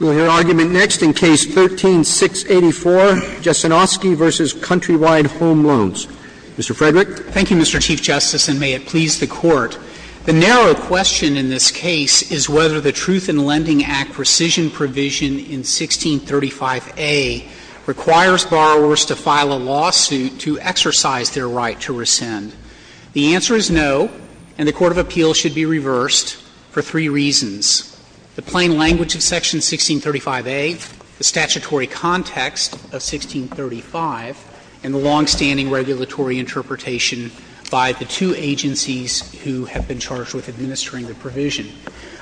We'll hear argument next in Case 13-684, Jessenoski v. Countrywide Home Loans. Mr. Frederick. Thank you, Mr. Chief Justice, and may it please the Court. The narrow question in this case is whether the Truth in Lending Act precision provision in 1635a requires borrowers to file a lawsuit to exercise their right to rescind. The answer is no, and the court of appeals should be reversed. For three reasons. The plain language of Section 1635a, the statutory context of 1635, and the longstanding regulatory interpretation by the two agencies who have been charged with administering the provision.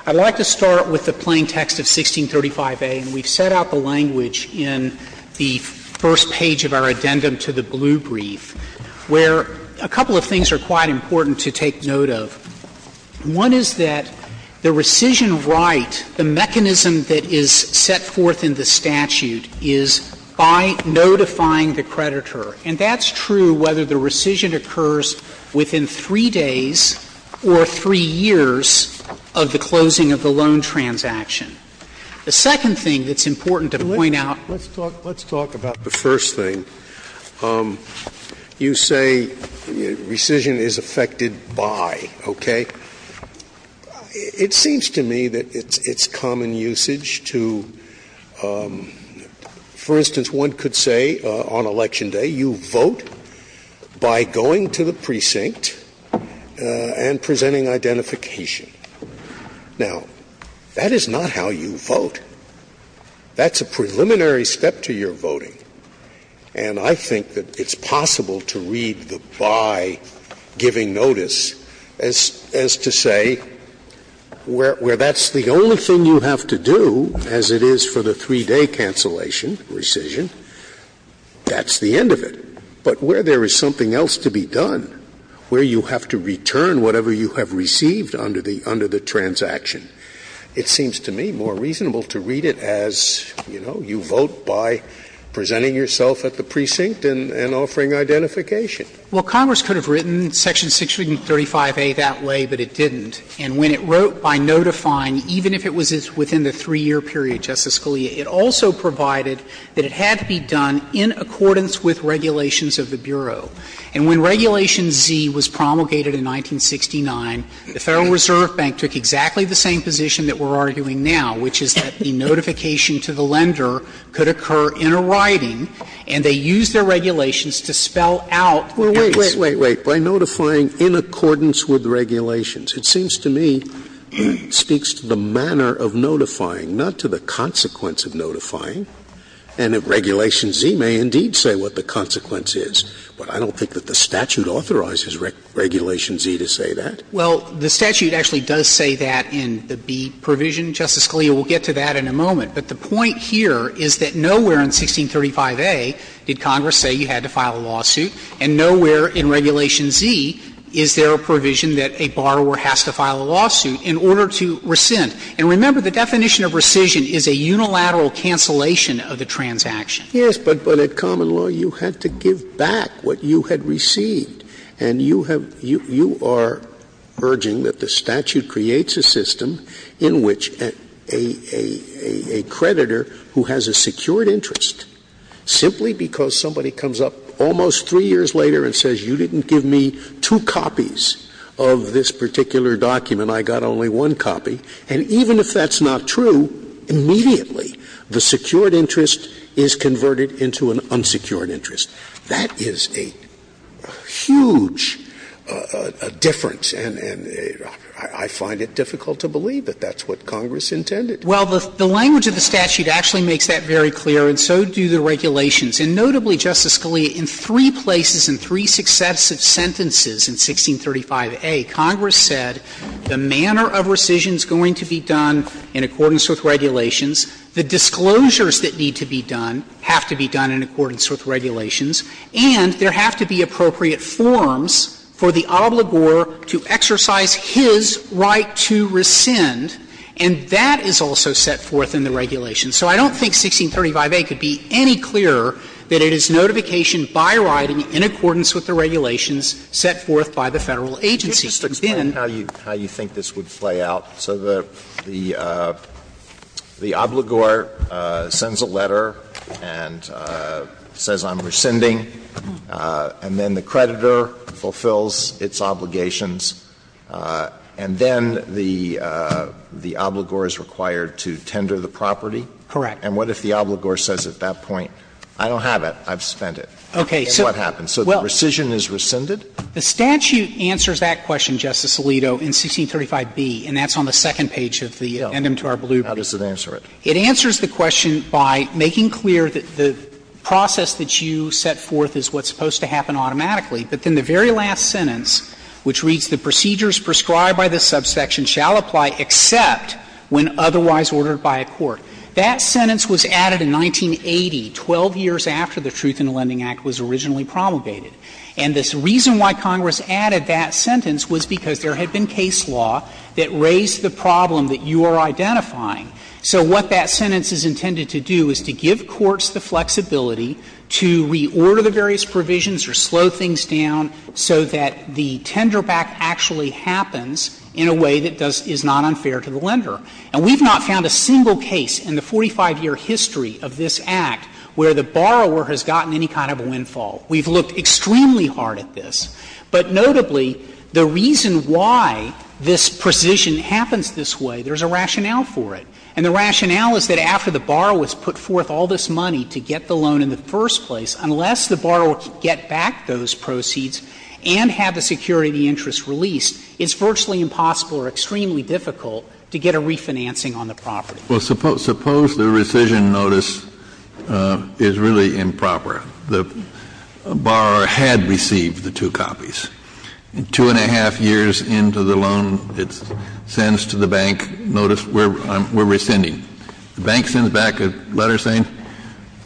I'd like to start with the plain text of 1635a, and we've set out the language in the first page of our addendum to the blue brief, where a couple of things are quite important to take note of. One is that the rescission right, the mechanism that is set forth in the statute, is by notifying the creditor. And that's true whether the rescission occurs within 3 days or 3 years of the closing of the loan transaction. The second thing that's important to point out. Let's talk about the first thing. You say rescission is affected by, okay? It seems to me that it's common usage to, for instance, one could say on election day you vote by going to the precinct and presenting identification. Now, that is not how you vote. That's a preliminary step to your voting, and I think that it's possible to read the by giving notice as to say where that's the only thing you have to do, as it is for the 3-day cancellation rescission, that's the end of it. But where there is something else to be done, where you have to return whatever you have received under the transaction, it seems to me more reasonable to read it as, you know, you vote by presenting yourself at the precinct and offering identification. Well, Congress could have written Section 635A that way, but it didn't. And when it wrote by notifying, even if it was within the 3-year period, Justice Scalia, it also provided that it had to be done in accordance with regulations of the Bureau. And when Regulation Z was promulgated in 1969, the Federal Reserve Bank took exactly the same position that we're arguing now, which is that the notification to the lender could occur in a writing, and they used their regulations to spell out what it is. Scalia, by notifying in accordance with regulations, it seems to me speaks to the manner of notifying, not to the consequence of notifying. And if Regulation Z may indeed say what the consequence is. But I don't think that the statute authorizes Regulation Z to say that. Well, the statute actually does say that in the B provision. Justice Scalia will get to that in a moment. But the point here is that nowhere in 1635A did Congress say you had to file a lawsuit, and nowhere in Regulation Z is there a provision that a borrower has to file a lawsuit in order to rescind. And remember, the definition of rescission is a unilateral cancellation of the transaction. Yes, but at common law, you had to give back what you had received. And you have you are urging that the statute creates a system in which a creditor who has a secured interest, simply because somebody comes up almost 3 years later and says you didn't give me 2 copies of this particular document, I got only 1 copy. And even if that's not true, immediately the secured interest is converted into an unsecured interest. That is a huge difference, and I find it difficult to believe that that's what Congress intended. Well, the language of the statute actually makes that very clear, and so do the regulations. And notably, Justice Scalia, in three places in three successive sentences in 1635A, Congress said the manner of rescission is going to be done in accordance with regulations. The disclosures that need to be done have to be done in accordance with regulations. And there have to be appropriate forms for the obligor to exercise his right to rescind, and that is also set forth in the regulations. So I don't think 1635A could be any clearer that it is notification by writing in accordance with the regulations set forth by the Federal agency. intended to do. Sotomayor, could you just explain how you think this would play out? So the obligor sends a letter and says I'm rescinding, and then the creditor fulfills its obligations, and then the obligor is required to tender the property? Correct. And what if the obligor says at that point, I don't have it, I've spent it? Okay. And what happens? So the rescission is rescinded? The statute answers that question, Justice Alito, in 1635B, and that's on the second page of the endem to our blue. How does it answer it? It answers the question by making clear that the process that you set forth is what's The very last sentence, which reads, The procedures prescribed by this subsection shall apply except when otherwise ordered by a court. That sentence was added in 1980, 12 years after the Truth in the Lending Act was originally promulgated. And the reason why Congress added that sentence was because there had been case law that raised the problem that you are identifying. So what that sentence is intended to do is to give courts the flexibility to reorder the various provisions or slow things down so that the tenderback actually happens in a way that does — is not unfair to the lender. And we've not found a single case in the 45-year history of this Act where the borrower has gotten any kind of a windfall. We've looked extremely hard at this. But notably, the reason why this precision happens this way, there's a rationale for it. And the rationale is that after the borrower has put forth all this money to get the loan in the first place, unless the borrower can get back those proceeds and have the security of the interest released, it's virtually impossible or extremely difficult to get a refinancing on the property. Kennedy, Suppose the rescission notice is really improper. The borrower had received the two copies. Two and a half years into the loan, it sends to the bank, notice, we're rescinding. The bank sends back a letter saying,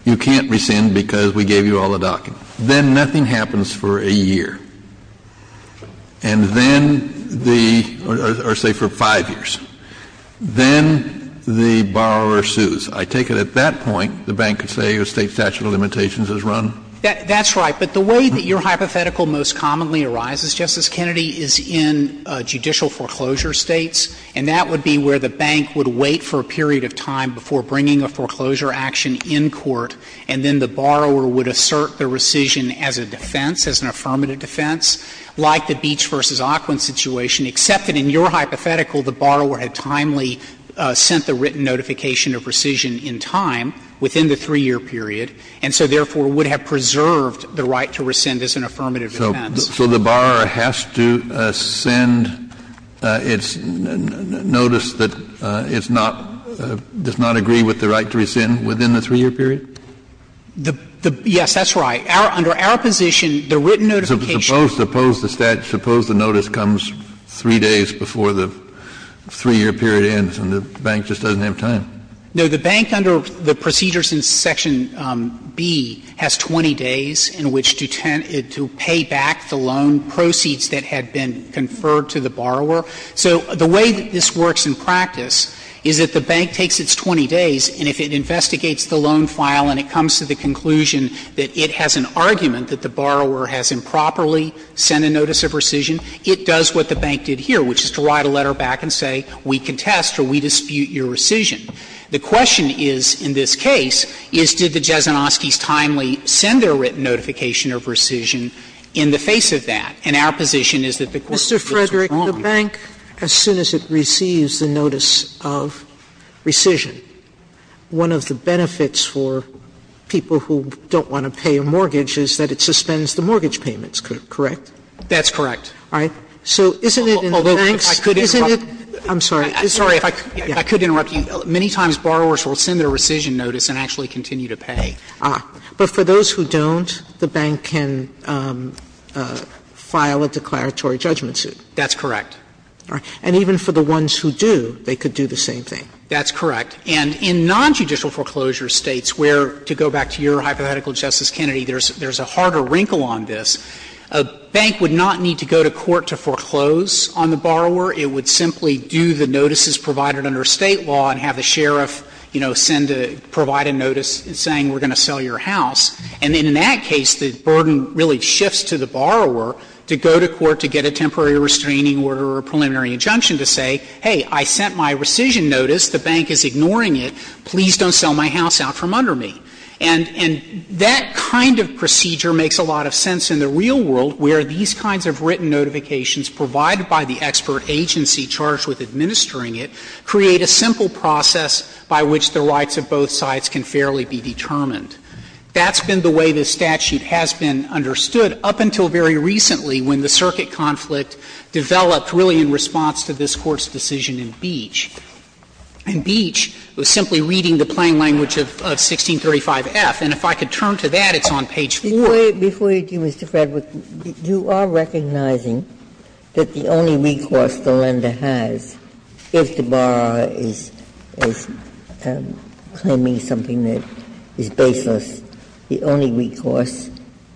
you can't rescind because we gave you all the docket. Then nothing happens for a year. And then the — or, say, for five years. Then the borrower sues. I take it at that point, the bank could say a State statute of limitations is run? That's right. But the way that your hypothetical most commonly arises, Justice Kennedy, is in judicial foreclosure States, and that would be where the bank would wait for a period of time before bringing a foreclosure action in court, and then the borrower would assert the rescission as a defense, as an affirmative defense, like the Beach v. Occoquan situation, except that in your hypothetical, the borrower had timely sent the written notification of rescission in time within the 3-year period, and so therefore would have preserved the right to rescind as an affirmative defense. Kennedy So the borrower has to send its notice that it's not — does not agree with the right to rescind within the 3-year period? Yes, that's right. Under our position, the written notification — Suppose the notice comes 3 days before the 3-year period ends and the bank just doesn't have time? No. So the bank, under the procedures in section B, has 20 days in which to pay back the loan proceeds that had been conferred to the borrower. So the way that this works in practice is that the bank takes its 20 days, and if it investigates the loan file and it comes to the conclusion that it has an argument that the borrower has improperly sent a notice of rescission, it does what the bank did here, which is to write a letter back and say we contest or we dispute your rescission. The question is, in this case, is did the Jasinovskys timely send their written notification of rescission in the face of that? And our position is that the court's position is wrong. Mr. Frederick, the bank, as soon as it receives the notice of rescission, one of the benefits for people who don't want to pay a mortgage is that it suspends the mortgage payments, correct? That's correct. All right. So isn't it in the banks — Although, if I could interrupt — Isn't it — I'm sorry. If I could interrupt you, many times borrowers will send their rescission notice and actually continue to pay. But for those who don't, the bank can file a declaratory judgment suit. That's correct. And even for the ones who do, they could do the same thing. That's correct. And in nonjudicial foreclosure States where, to go back to your hypothetical, Justice Kennedy, there's a harder wrinkle on this. A bank would not need to go to court to foreclose on the borrower. It would simply do the notices provided under State law and have the sheriff, you know, send a — provide a notice saying we're going to sell your house. And in that case, the burden really shifts to the borrower to go to court to get a temporary restraining order or a preliminary injunction to say, hey, I sent my rescission notice, the bank is ignoring it, please don't sell my house out from under me. And that kind of procedure makes a lot of sense in the real world where these kinds of written notifications provided by the expert agency charged with administering it create a simple process by which the rights of both sides can fairly be determined. That's been the way this statute has been understood up until very recently when the circuit conflict developed really in response to this Court's decision in Beach. In Beach, it was simply reading the plain language of 1635F. And if I could turn to that, it's on page 4. Ginsburg, before you do, Mr. Frederick, you are recognizing that the only recourse the lender has, if the borrower is claiming something that is baseless, the only recourse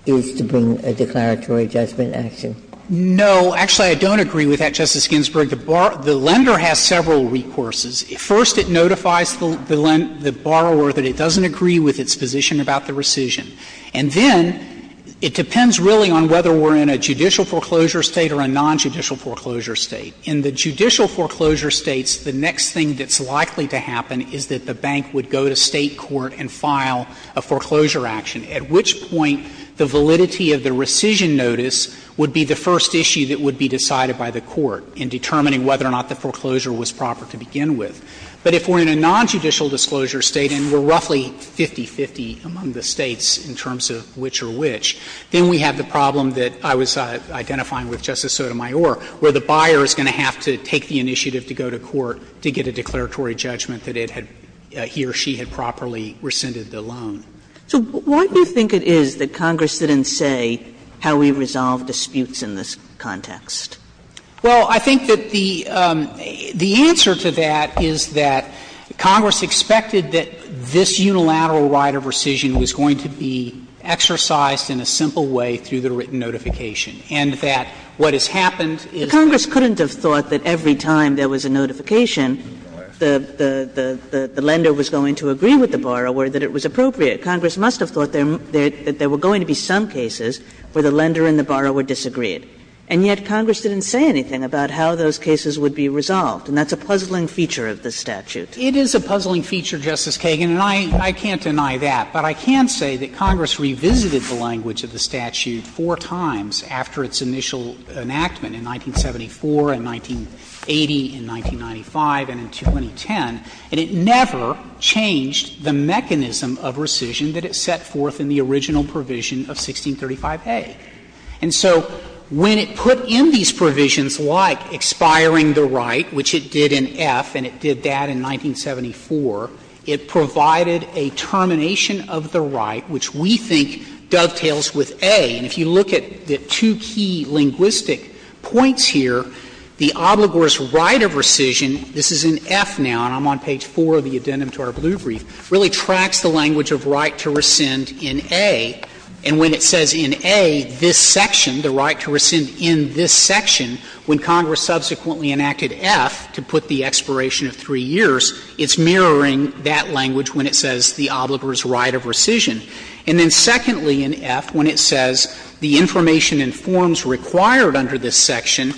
is to bring a declaratory judgment action. Frederick, no, actually, I don't agree with that, Justice Ginsburg. The lender has several recourses. First, it notifies the borrower that it doesn't agree with its position about the rescission. And then it depends really on whether we're in a judicial foreclosure State or a nonjudicial foreclosure State. In the judicial foreclosure States, the next thing that's likely to happen is that the bank would go to State court and file a foreclosure action, at which point the validity of the rescission notice would be the first issue that would be decided by the Court in determining whether or not the foreclosure was proper to begin with. But if we're in a nonjudicial disclosure State and we're roughly 50-50 among the States in terms of which are which, then we have the problem that I was identifying with Justice Sotomayor, where the buyer is going to have to take the initiative to go to court to get a declaratory judgment that it had he or she had properly rescinded the loan. So why do you think it is that Congress didn't say how we resolve disputes in this context? Well, I think that the answer to that is that Congress expected that this unilateral right of rescission was going to be exercised in a simple way through the written notification, and that what has happened is that the lender was going to agree with the borrower that it was appropriate. Congress couldn't have thought that every time there was a notification, Congress must have thought that there were going to be some cases where the lender and the borrower disagreed. And yet Congress didn't say anything about how those cases would be resolved, and that's a puzzling feature of the statute. It is a puzzling feature, Justice Kagan, and I can't deny that. But I can say that Congress revisited the language of the statute four times after its initial enactment in 1974 and 1980 and 1995 and in 2010, and it never changed the mechanism of rescission that it set forth in the original provision of 1635a. And so when it put in these provisions like expiring the right, which it did in F and it did that in 1974, it provided a termination of the right, which we think dovetails with a. And if you look at the two key linguistic points here, the obligor's right of rescission this is in F now, and I'm on page 4 of the addendum to our blue brief, really tracks the language of right to rescind in a. And when it says in a, this section, the right to rescind in this section, when Congress subsequently enacted F to put the expiration of 3 years, it's mirroring that language when it says the obligor's right of rescission. And then secondly in F, when it says the information and forms required under this in a,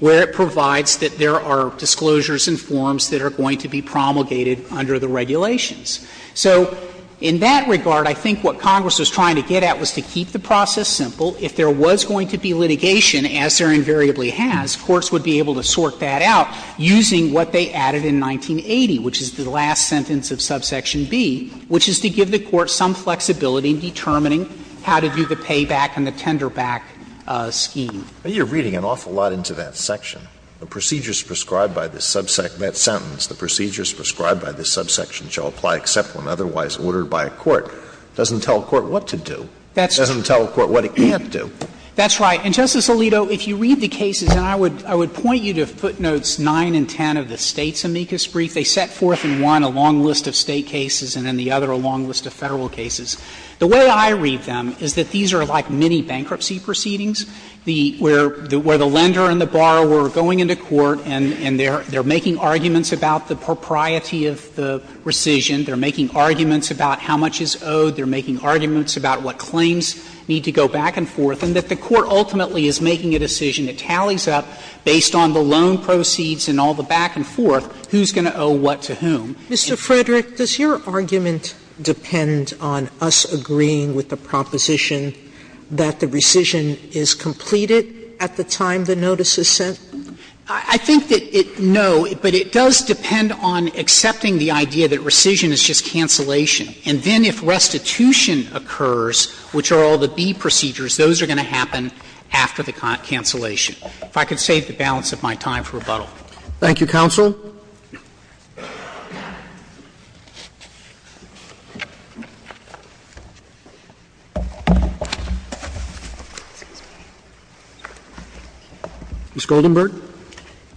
where it provides that there are disclosures and forms that are going to be promulgated under the regulations. So in that regard, I think what Congress was trying to get at was to keep the process simple. If there was going to be litigation, as there invariably has, courts would be able to sort that out using what they added in 1980, which is the last sentence of subsection B, which is to give the court some flexibility in determining how to do the payback and the tenderback scheme. Alito, you're reading an awful lot into that section. The procedures prescribed by this subsection, that sentence, the procedures prescribed by this subsection shall apply except when otherwise ordered by a court, doesn't tell a court what to do. It doesn't tell a court what it can't do. That's right. And, Justice Alito, if you read the cases, and I would point you to footnotes 9 and 10 of the State's amicus brief, they set forth in one a long list of State cases and in the other a long list of Federal cases. The way I read them is that these are like mini-bankruptcy proceedings. The – where the lender and the borrower are going into court and they're making arguments about the propriety of the rescission, they're making arguments about how much is owed, they're making arguments about what claims need to go back and forth, and that the court ultimately is making a decision, it tallies up based on the loan proceeds and all the back and forth, who's going to owe what to whom. Sotomayor, does your argument depend on us agreeing with the proposition that the rescission is completed at the time the notice is sent? I think that it – no, but it does depend on accepting the idea that rescission is just cancellation, and then if restitution occurs, which are all the B procedures, those are going to happen after the cancellation. If I could save the balance of my time for rebuttal. Thank you, counsel. Ms. Goldenberg.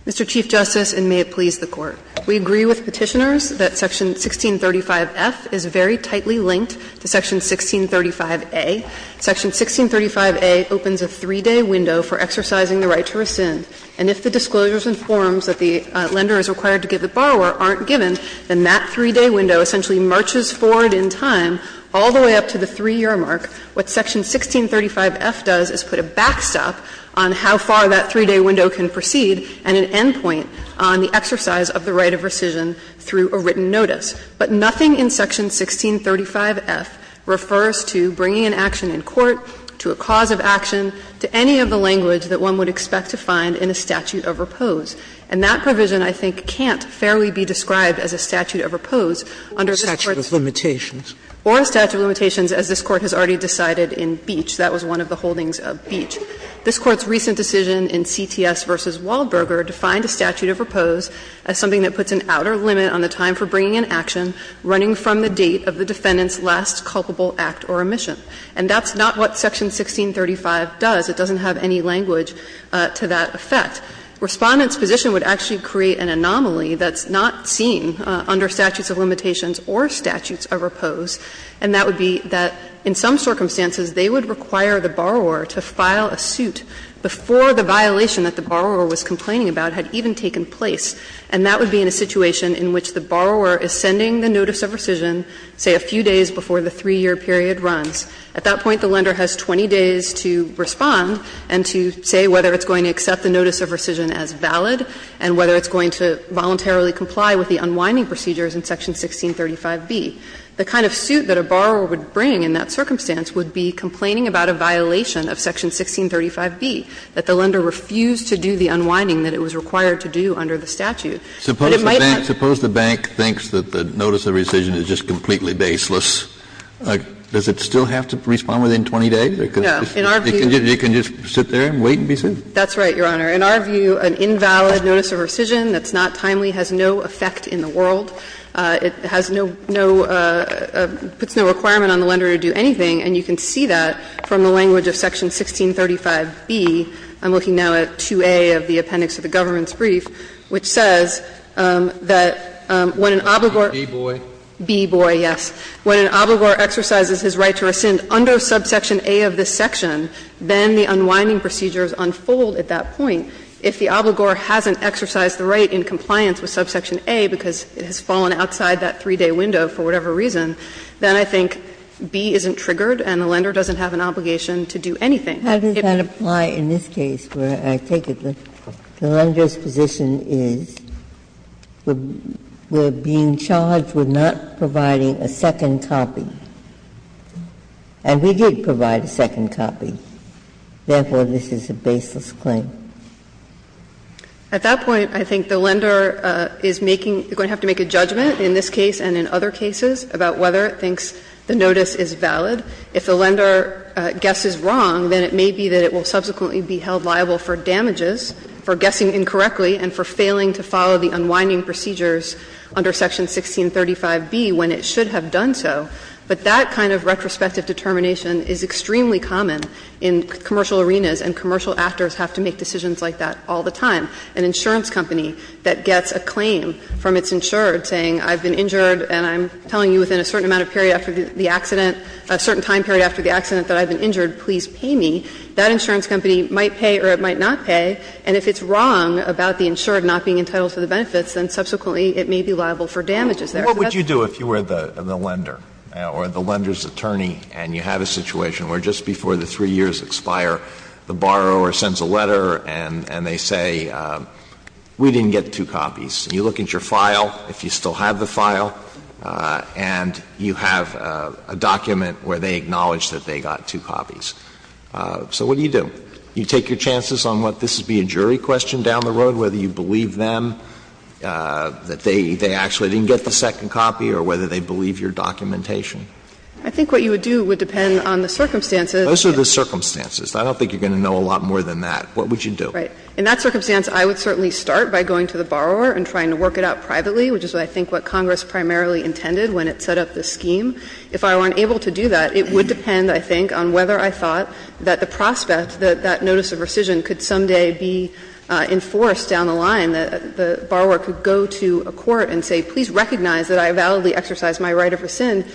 Mr. Chief Justice, and may it please the Court. We agree with Petitioners that section 1635F is very tightly linked to section 1635A. Section 1635A opens a three-day window for exercising the right to rescind, and if the disclosures and forms that the lender is required to give the borrower aren't given, then that three-day window essentially marches forward in time all the way up to the 3-year mark. What section 1635F does is put a backstop on how far that three-day window can proceed and an endpoint on the exercise of the right of rescission through a written notice. But nothing in section 1635F refers to bringing an action in court, to a cause of action, to any of the language that one would expect to find in a statute of repose. And that provision, I think, can't fairly be described as a statute of repose under this Court's statute of limitations, or a statute of limitations, as this Court has already decided in Beach. That was one of the holdings of Beach. This Court's recent decision in CTS v. Waldberger defined a statute of repose as something that puts an outer limit on the time for bringing an action running from the date of the defendant's last culpable act or omission. And that's not what section 1635 does. It doesn't have any language to that effect. Respondent's position would actually create an anomaly that's not seen under statutes of limitations or statutes of repose, and that would be that in some circumstances they would require the borrower to file a suit before the violation that the borrower was complaining about had even taken place. And that would be in a situation in which the borrower is sending the notice of rescission, say, a few days before the 3-year period runs. At that point, the lender has 20 days to respond and to say whether it's going to accept the notice of rescission as valid and whether it's going to voluntarily comply with the unwinding procedures in section 1635b. The kind of suit that a borrower would bring in that circumstance would be complaining about a violation of section 1635b, that the lender refused to do the unwinding that it was required to do under the statute. But it might not. Kennedy, Suppose the bank thinks that the notice of rescission is just completely baseless. Does it still have to respond within 20 days? Because you can just sit there and wait and be sued? That's right, Your Honor. In our view, an invalid notice of rescission that's not timely has no effect in the world. It has no no no no requirement on the lender to do anything, and you can see that from the language of section 1635b. I'm looking now at 2a of the appendix of the government's brief, which says that when an obligor. Breyer, B-boy. B-boy, yes. When an obligor exercises his right to rescind under subsection a of this section, then the unwinding procedures unfold at that point. If the obligor hasn't exercised the right in compliance with subsection a because it has fallen outside that 3-day window for whatever reason, then I think b isn't triggered and the lender doesn't have an obligation to do anything. Ginsburg. How does that apply in this case, where I take it the lender's position is we're being charged with not providing a second copy, and we did provide a second copy. Therefore, this is a baseless claim. At that point, I think the lender is making the going to have to make a judgment in this case and in other cases about whether it thinks the notice is valid. If the lender guesses wrong, then it may be that it will subsequently be held liable for damages for guessing incorrectly and for failing to follow the unwinding procedures under section 1635b when it should have done so. But that kind of retrospective determination is extremely common in commercial arenas, and commercial actors have to make decisions like that all the time. An insurance company that gets a claim from its insured saying I've been injured and I'm telling you within a certain amount of period after the accident, a certain time period after the accident that I've been injured, please pay me, that insurance company might pay or it might not pay. And if it's wrong about the insured not being entitled to the benefits, then subsequently it may be liable for damages there. Alito, what would you do if you were the lender or the lender's attorney and you have a situation where just before the 3 years expire, the borrower sends a letter and they say, we didn't get two copies, and you look at your file, if you still have the file, and you have a document where they acknowledge that they got two copies. So what do you do? You take your chances on what this would be a jury question down the road, whether you believe them, that they actually didn't get the second copy, or whether they believe your documentation. I think what you would do would depend on the circumstances. Those are the circumstances. I don't think you're going to know a lot more than that. What would you do? Right. In that circumstance, I would certainly start by going to the borrower and trying to work it out privately, which is what I think what Congress primarily intended when it set up this scheme. If I weren't able to do that, it would depend, I think, on whether I thought that the prospect, that that notice of rescission could someday be enforced down the line, that the borrower could go to a court and say, please recognize that I validly exercise my right of rescind,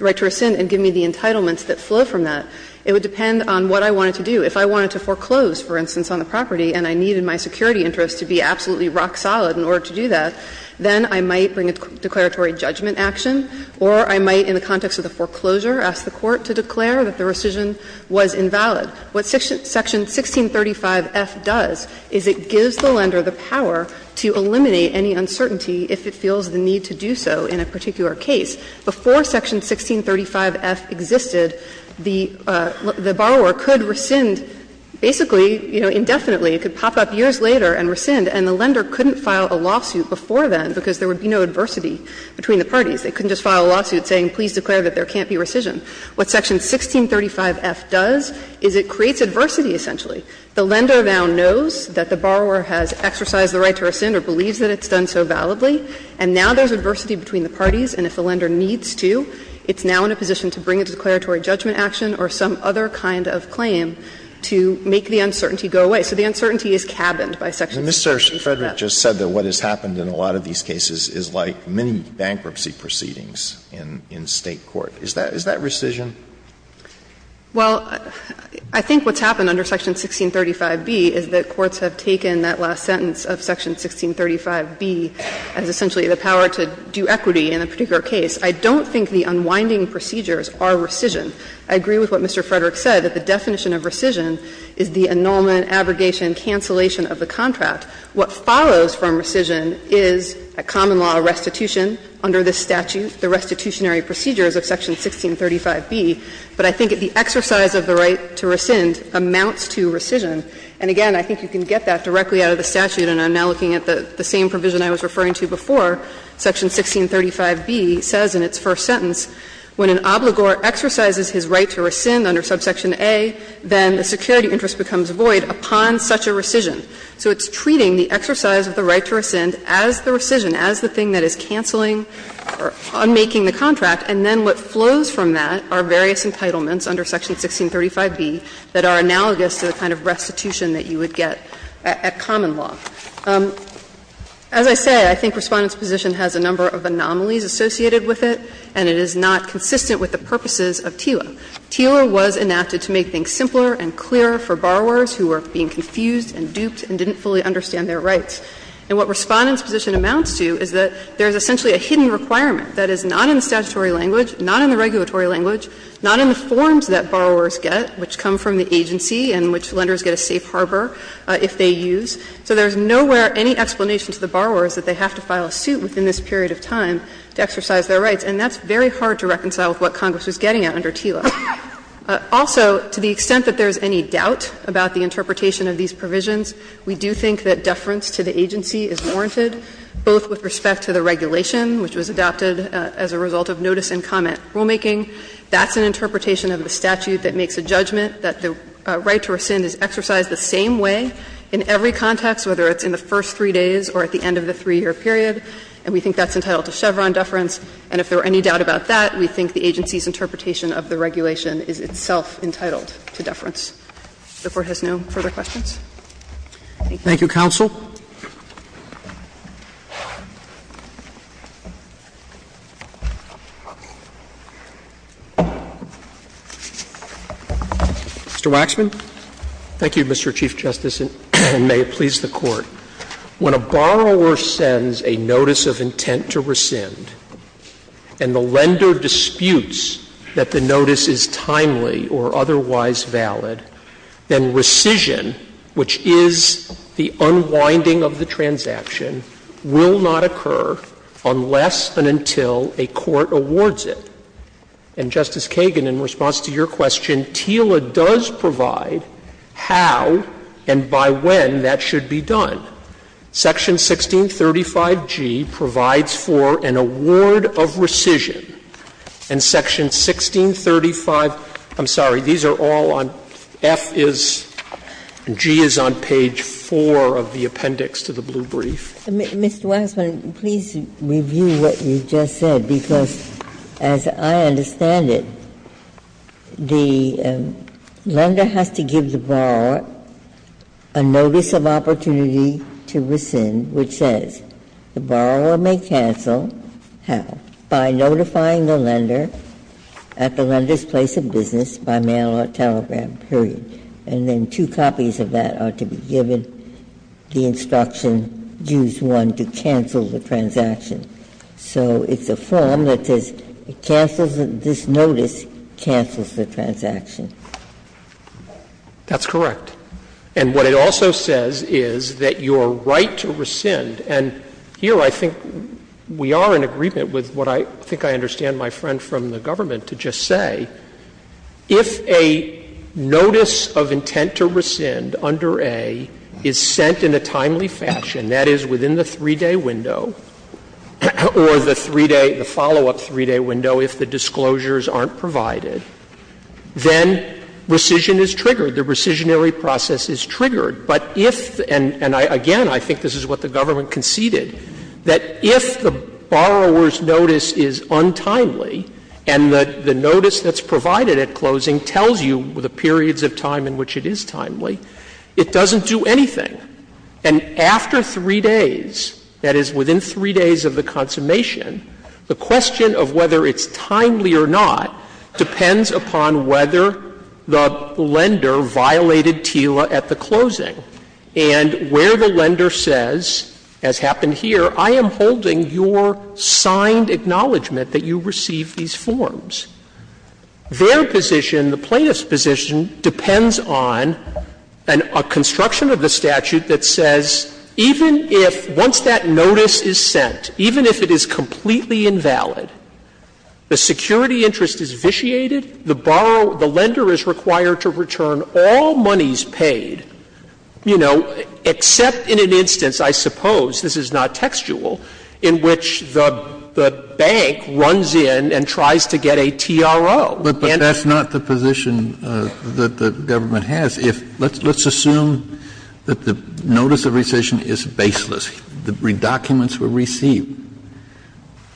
right to rescind, and give me the entitlements that flow from that. It would depend on what I wanted to do. If I wanted to foreclose, for instance, on the property and I needed my security interests to be absolutely rock-solid in order to do that, then I might bring a declaratory judgment action, or I might, in the context of the foreclosure, ask the court to declare that the rescission was invalid. What Section 1635F does is it gives the lender the power to eliminate any uncertainty if it feels the need to do so in a particular case. Before Section 1635F existed, the borrower could rescind basically, you know, indefinitely. It could pop up years later and rescind, and the lender couldn't file a lawsuit before then because there would be no adversity between the parties. They couldn't just file a lawsuit saying, please declare that there can't be rescission. What Section 1635F does is it creates adversity, essentially. The lender now knows that the borrower has exercised the right to rescind or believes that it's done so validly, and now there's adversity between the parties, and if the lender needs to, it's now in a position to bring a declaratory judgment action or some other kind of claim to make the uncertainty go away. So the uncertainty is cabined by Section 1635F. Alitoso, and Mr. Frederick just said that what has happened in a lot of these cases is like many bankruptcy proceedings in State court. Is that rescission? Well, I think what's happened under Section 1635B is that courts have taken that last sentence of Section 1635B as essentially the power to do equity in a particular case. I don't think the unwinding procedures are rescission. I agree with what Mr. Frederick said, that the definition of rescission is the annulment, abrogation, cancellation of the contract. What follows from rescission is a common law restitution under this statute, the restitutionary procedures of Section 1635B. But I think the exercise of the right to rescind amounts to rescission. And again, I think you can get that directly out of the statute, and I'm now looking at the same provision I was referring to before. Section 1635B says in its first sentence, When an obligor exercises his right to rescind under subsection A, then the security interest becomes void upon such a rescission. So it's treating the exercise of the right to rescind as the rescission, as the thing that is canceling or unmaking the contract, and then what flows from that are various entitlements under Section 1635B that are analogous to the kind of restitution that you would get at common law. As I say, I think Respondent's position has a number of anomalies associated with it, and it is not consistent with the purposes of TILA. TILA was enacted to make things simpler and clearer for borrowers who were being confused and duped and didn't fully understand their rights. And what Respondent's position amounts to is that there is essentially a hidden requirement that is not in the statutory language, not in the regulatory language, not in the forms that borrowers get, which come from the agency and which lenders get a safe harbor if they use. So there is nowhere any explanation to the borrowers that they have to file a suit within this period of time to exercise their rights, and that's very hard to reconcile with what Congress was getting at under TILA. Also, to the extent that there is any doubt about the interpretation of these provisions, we do think that deference to the agency is warranted, both with respect to the regulation which was adopted as a result of notice and comment rulemaking. That's an interpretation of the statute that makes a judgment that the right to rescind is exercised the same way in every context, whether it's in the first three days or at the end of the 3-year period, and we think that's entitled to Chevron deference. And if there were any doubt about that, we think the agency's interpretation of the regulation is itself entitled to deference. If the Court has no further questions, thank you. Roberts. Thank you, counsel. Mr. Waxman. Thank you, Mr. Chief Justice, and may it please the Court. When a borrower sends a notice of intent to rescind and the lender disputes that the notice is timely or otherwise valid, then rescission, which is the unwinding of the transaction, will not occur unless and until a court awards it. And, Justice Kagan, in response to your question, TILA does provide how and by when that should be done. Section 1635G provides for an award of rescission, and Section 1635 – I'm sorry, these are all on – F is – G is on page 4 of the appendix to the blue brief. Mr. Waxman, please review what you just said, because as I understand it, the lender has to give the borrower a notice of opportunity to rescind, which says, the borrower may cancel how? By notifying the lender at the lender's place of business by mail or telegram, period. And then two copies of that are to be given, the instruction, use one to cancel the transaction. So it's a form that says it cancels – this notice cancels the transaction. That's correct. And what it also says is that your right to rescind – and here I think we are in agreement with what I think I understand my friend from the government to just say – if a notice of intent to rescind under A is sent in a timely fashion, that is, within the 3-day window, or the 3-day, the follow-up 3-day window if the disclosures aren't provided, then rescission is triggered, the rescissionary process is triggered. But if – and again, I think this is what the government conceded, that if the borrower's notice is untimely and the notice that's provided at closing tells you the periods of time in which it is timely, it doesn't do anything. And after 3 days, that is, within 3 days of the consummation, the question of whether it's timely or not depends upon whether the lender violated TILA at the closing. And where the lender says, as happened here, I am holding your signed acknowledgment that you received these forms, their position, the Plaintiff's position, depends on a construction of the statute that says even if, once that notice is sent, even if it is completely invalid, the security interest is vitiated, the borrower – the lender is required to return all monies paid, you know, except in an instance, I suppose, this is not textual, in which the bank runs in and tries to get a TRO. Kennedy. Kennedy. But that's not the position that the government has. If – let's assume that the notice of rescission is baseless. The documents were received.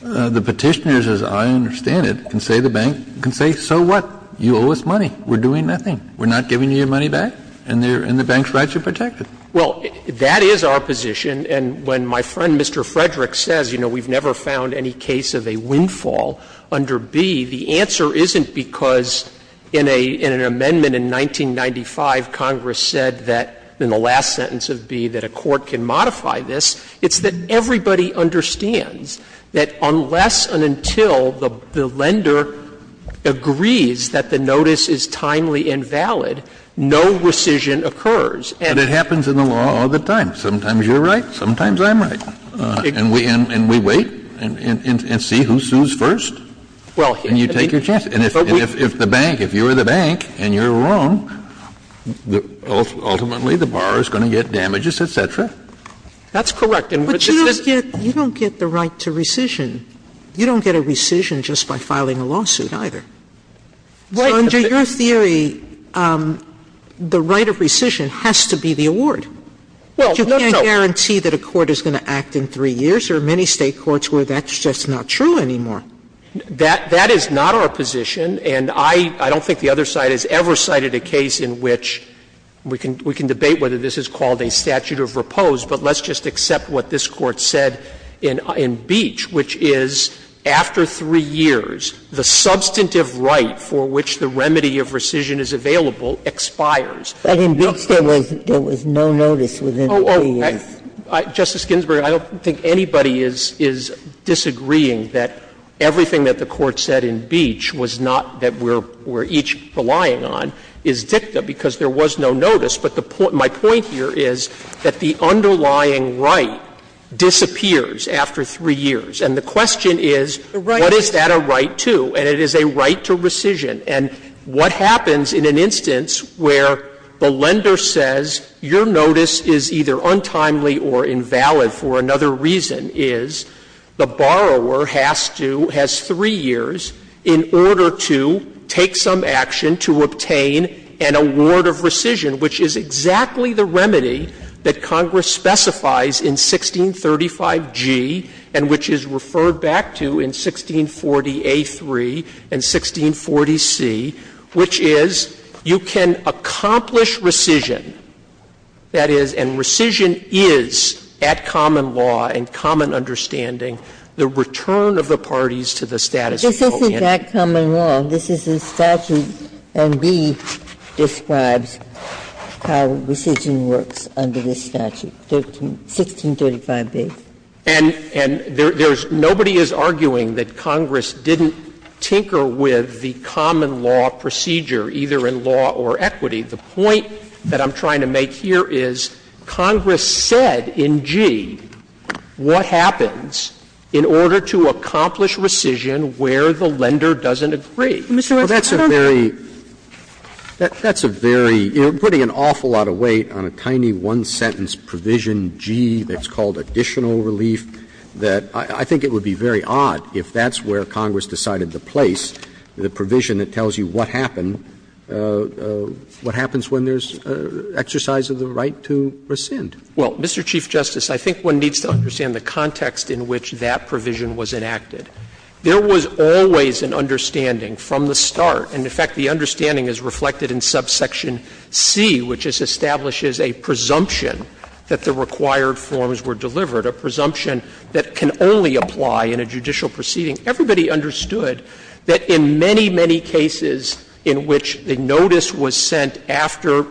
The Petitioners, as I understand it, can say to the bank, can say, so what? You owe us money. We're doing nothing. We're not giving you your money back. And the bank's rights are protected. Well, that is our position. And when my friend, Mr. Frederick, says, you know, we've never found any case of a windfall under B, the answer isn't because in an amendment in 1995, Congress said that in the last sentence of B that a court can modify this. It's that everybody understands that unless and until the lender agrees that the notice is timely and valid, no rescission occurs. And it happens in the law all the time. Sometimes you're right, sometimes I'm right. And we – and we wait and see who sues first, and you take your chance. And if the bank, if you're the bank and you're wrong, ultimately the borrower is going to get damages, et cetera. That's correct. But you don't get the right to rescission. You don't get a rescission just by filing a lawsuit, either. Right. So under your theory, the right of rescission has to be the award. Well, no, no. You can't guarantee that a court is going to act in three years. There are many State courts where that's just not true anymore. That is not our position, and I don't think the other side has ever cited a case in which we can debate whether this is called a statute of repose, but let's just accept what this Court said in Beach, which is after three years, the substantive right for which the remedy of rescission is available expires. But in Beach there was no notice within three years. Justice Ginsburg, I don't think anybody is disagreeing that everything that the Court said in Beach was not that we're each relying on is dicta, because there was no notice. But my point here is that the underlying right disappears after three years. And the question is, what is that a right to? And it is a right to rescission. And what happens in an instance where the lender says your notice is either untimely or invalid for another reason, is the borrower has to, has three years in order to take some action to obtain an award of rescission, which is exactly the remedy that Congress specifies in 1635G and which is referred back to in 1640A3 and 1640C, which is you can accomplish rescission, that is, and rescission is the right to obtain an award of rescission, and it's at common law and common understanding the return of the parties to the status quo. Ginsburg This isn't at common law. This is the statute and B describes how rescission works under this statute, 1635B. And there's nobody is arguing that Congress didn't tinker with the common law procedure, either in law or equity. The point that I'm trying to make here is Congress said in G what happens in order to accomplish rescission where the lender doesn't agree. Sotomayor Well, Mr. Waxman, I don't know. Roberts That's a very, that's a very, you're putting an awful lot of weight on a tiny one-sentence provision, G, that's called additional relief, that I think it would be very odd if that's where Congress decided to place the provision that tells you what happened, what happens when there's exercise of the right to rescind. Waxman Well, Mr. Chief Justice, I think one needs to understand the context in which that provision was enacted. There was always an understanding from the start, and in fact, the understanding is reflected in subsection C, which establishes a presumption that the required forms were delivered, a presumption that can only apply in a judicial proceeding. Everybody understood that in many, many cases in which the notice was sent after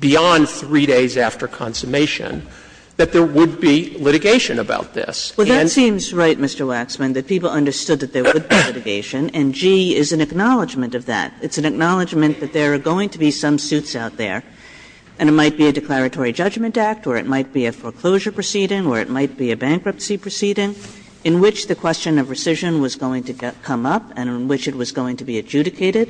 beyond three days after consummation, that there would be litigation about this. that can only apply in a judicial proceeding. Kagan Well, that seems right, Mr. Waxman, that people understood that there would be litigation, and G is an acknowledgment of that. It's an acknowledgment that there are going to be some suits out there, and it might be a declaratory judgment act or it might be a foreclosure proceeding or it might be a bankruptcy proceeding, in which the question of rescission was going to come up and in which it was going to be adjudicated.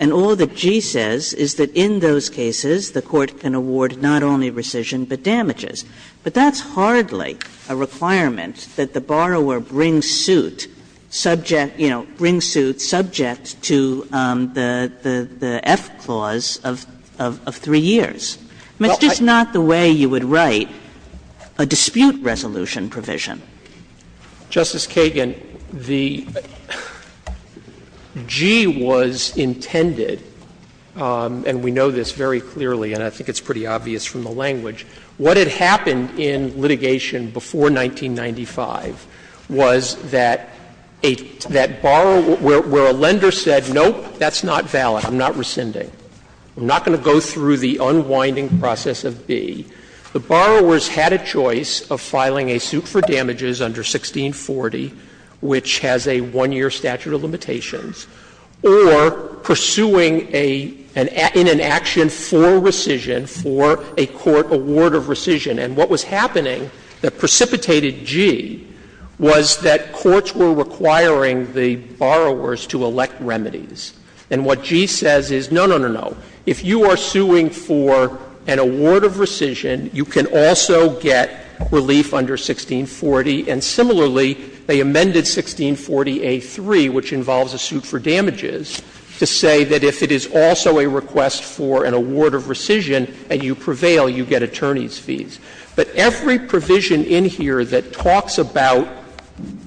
And all that G says is that in those cases, the Court can award not only rescission, but damages. But that's hardly a requirement that the borrower brings suit subject, you know, brings suit subject to the F clause of three years. I mean, it's just not the way you would write a dispute resolution provision. Waxman Justice Kagan, the G was intended, and we know this very clearly and I think it's pretty obvious from the language, what had happened in litigation before 1995 was that a that borrower where a lender said, nope, that's not valid, I'm not rescinding. I'm not going to go through the unwinding process of B. The borrowers had a choice of filing a suit for damages under 1640, which has a one-year statute of limitations, or pursuing a in an action for rescission for a court award of rescission. And what was happening that precipitated G was that courts were requiring the borrowers to elect remedies. And what G says is, no, no, no, no, if you are suing for an award of rescission, you can also get relief under 1640. And similarly, they amended 1640a3, which involves a suit for damages, to say that if it is also a request for an award of rescission and you prevail, you get attorney's fees. But every provision in here that talks about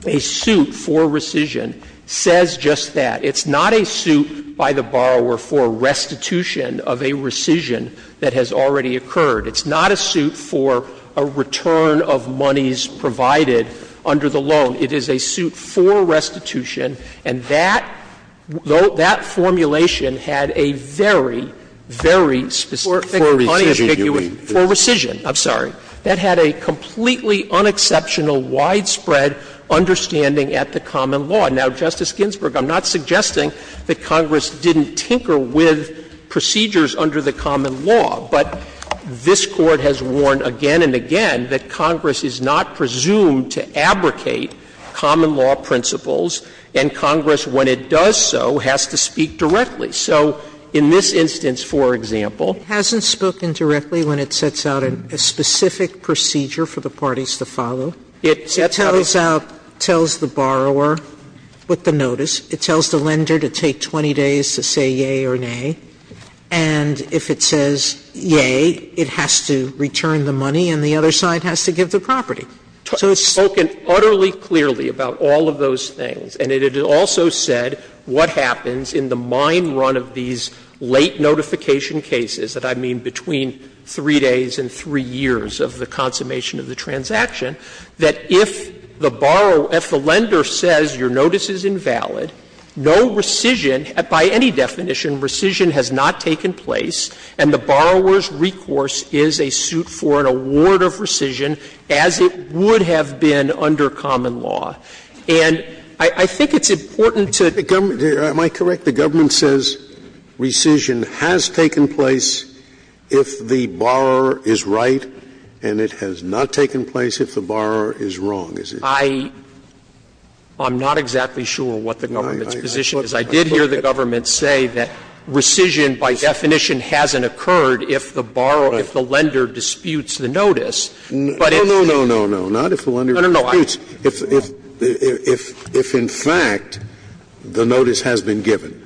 a suit for rescission says just that. It's not a suit by the borrower for restitution of a rescission that has already occurred. It's not a suit for a return of monies provided under the loan. It is a suit for restitution, and that formulation had a very, very specific money affiguration for rescission. I'm sorry. That had a completely unexceptional, widespread understanding at the common law. Now, Justice Ginsburg, I'm not suggesting that Congress didn't tinker with procedures under the common law, but this Court has warned again and again that Congress is not presumed to abrogate common law principles, and Congress, when it does so, has to speak directly. So in this instance, for example. Sotomayor, it hasn't spoken directly when it sets out a specific procedure for the parties to follow. It tells out, tells the borrower. With the notice, it tells the lender to take 20 days to say yea or nay. And if it says yea, it has to return the money and the other side has to give the property. So it's spoken utterly clearly about all of those things, and it had also said what happens in the mine run of these late notification cases, that I mean between 3 days and 3 years of the consummation of the transaction, that if the borrower or if the lender says your notice is invalid, no rescission, by any definition, rescission has not taken place, and the borrower's recourse is a suit for an award of rescission, as it would have been under common law. And I think it's important to the government. Am I correct? The government says rescission has taken place if the borrower is right, and it has not taken place if the borrower is wrong. I'm not exactly sure what the government's position is. I did hear the government say that rescission by definition hasn't occurred if the borrower, if the lender disputes the notice. But if the lender disputes the notice, if in fact the notice has been given,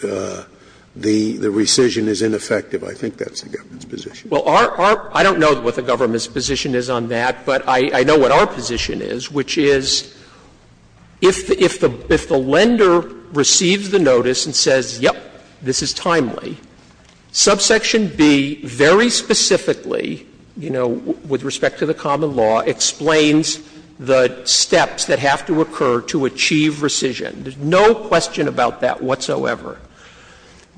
the rescission is ineffective, I think that's the government's position. Well, our – I don't know what the government's position is on that, but I know what our position is, which is if the lender receives the notice and says, yep, this is timely, subsection B very specifically, you know, with respect to the common law, explains the steps that have to occur to achieve rescission. There's no question about that whatsoever.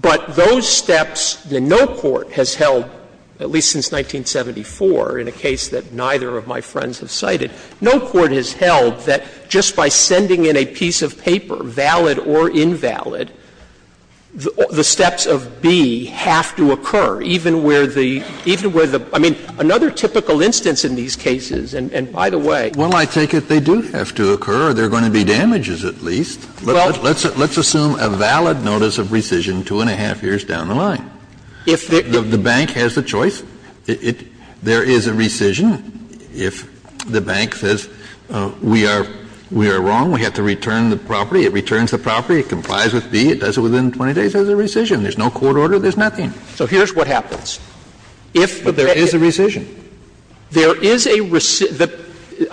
But those steps that no court has held, at least since 1974, in a case that neither of my friends have cited, no court has held that just by sending in a piece of paper, valid or invalid, the steps of B have to occur, even where the – even where the – I mean, another typical instance in these cases, and by the way – Well, I take it they do have to occur, or there are going to be damages at least. Let's assume a valid notice of rescission two and a half years down the line. If the bank has the choice, there is a rescission. If the bank says, we are wrong, we have to return the property, it returns the property, it complies with B, it does it within 20 days, there's a rescission. There's no court order, there's nothing. So here's what happens. If there is a rescission. There is a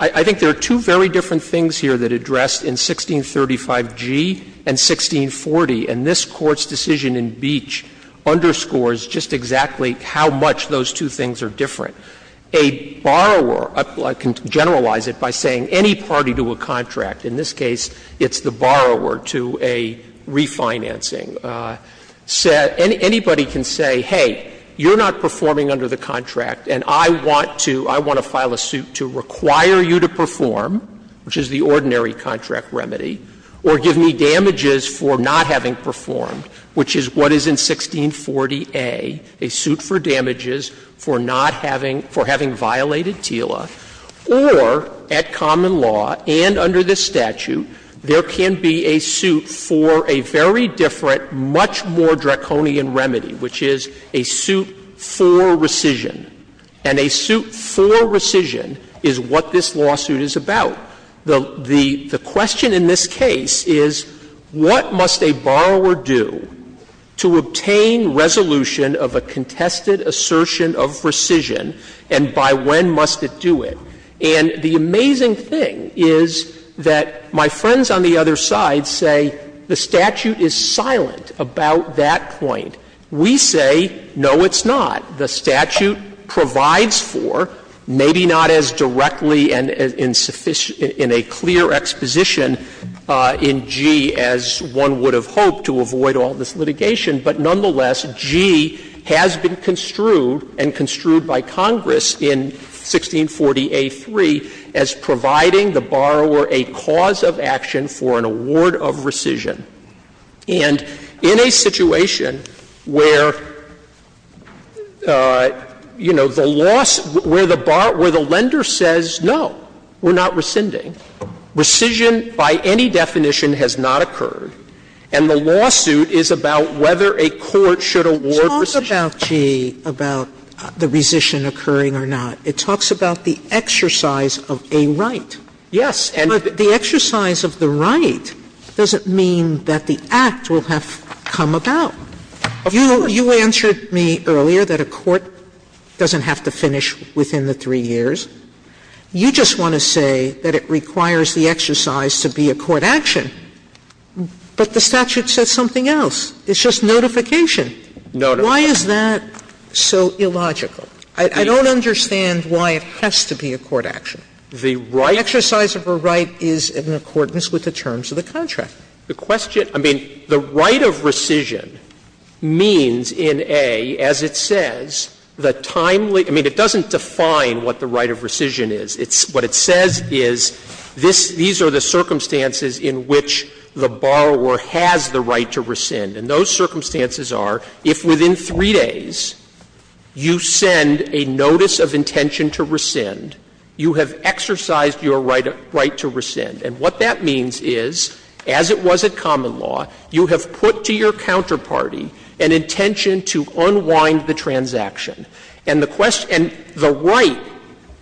– I think there are two very different things here that address in 1635 G and 1640, and this Court's decision in Beach underscores just exactly how much those two things are different. A borrower – I can generalize it by saying any party to a contract, in this case it's the borrower to a refinancing – anybody can say, hey, you're not performing under the contract and I want to – I want to file a suit to require you to perform, which is the ordinary contract remedy, or give me damages for not having performed, which is what is in 1640A, a suit for damages for not having – for having violated TILA, or at common law and under this statute, there can be a suit for a very different, much more draconian remedy, which is a suit for rescission. And a suit for rescission is what this lawsuit is about. The question in this case is what must a borrower do to obtain resolution of a contested assertion of rescission, and by when must it do it? And the amazing thing is that my friends on the other side say the statute is silent about that point. We say, no, it's not. The statute provides for, maybe not as directly and in sufficient – in a clear exposition in G as one would have hoped to avoid all this litigation, but nonetheless, G has been construed and construed by Congress in 1640A3 as providing the borrower a cause of action for an award of rescission. And in a situation where, you know, the loss – where the lender says, no, we're not rescinding, rescission by any definition has not occurred, and the lawsuit is about whether a court should award rescission. Sotomayor, about the rescission occurring or not, it talks about the exercise of a right. Yes. Sotomayor, but the exercise of the right doesn't mean that the act will have come about. You answered me earlier that a court doesn't have to finish within the three years. You just want to say that it requires the exercise to be a court action, but the statute says something else. It's just notification. Why is that so illogical? I don't understand why it has to be a court action. The exercise of a right is in accordance with the terms of the contract. The question – I mean, the right of rescission means in A, as it says, the timely – I mean, it doesn't define what the right of rescission is. What it says is these are the circumstances in which the borrower has the right to rescind, and those circumstances are if within three days you send a notice of intention to rescind, you have exercised your right to rescind. And what that means is, as it was at common law, you have put to your counterparty an intention to unwind the transaction. And the right,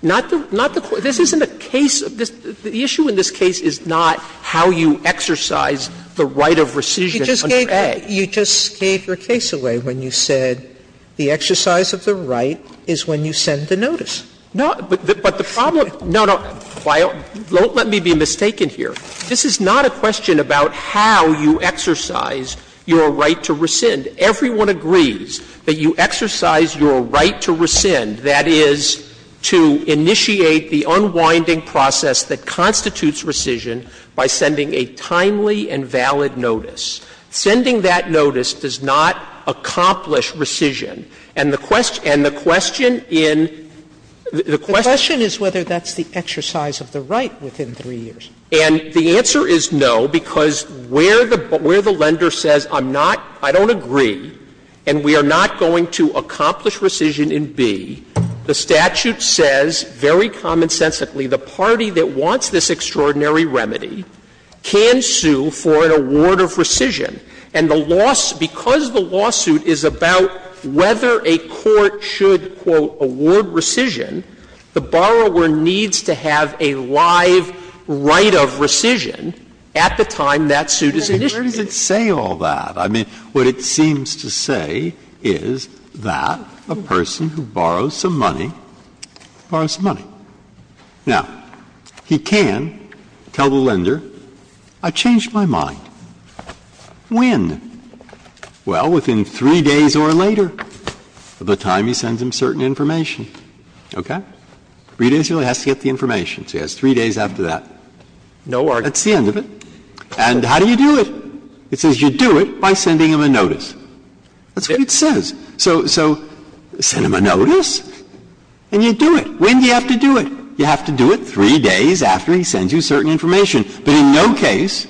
not the – this isn't a case of this – the issue in this case is not how you exercise the right of rescission under A. Sotomayor, you just gave your case away when you said the exercise of the right is when you send the notice. No, but the problem – no, no, don't let me be mistaken here. This is not a question about how you exercise your right to rescind. Everyone agrees that you exercise your right to rescind, that is, to initiate the unwinding process that constitutes rescission by sending a timely and valid notice. Sending that notice does not accomplish rescission. And the question in the question is whether that's the exercise of the right within three years. And the answer is no, because where the lender says, I'm not, I don't agree, and we are not going to accomplish rescission in B, the statute says very commonsensically the party that wants this extraordinary remedy can sue for an award of rescission. And the lawsuit – because the lawsuit is about whether a court should, quote, award rescission, the borrower needs to have a live right of rescission at the time that suit is initiated. Breyer, where does it say all that? I mean, what it seems to say is that a person who borrows some money borrows money. Now, he can tell the lender, I changed my mind. When? Well, within three days or later of the time he sends him certain information. Okay? Three days or later, he has to get the information, so he has three days after that. That's the end of it. And how do you do it? It says you do it by sending him a notice. That's what it says. So send him a notice and you do it. When do you have to do it? You have to do it three days after he sends you certain information, but in no case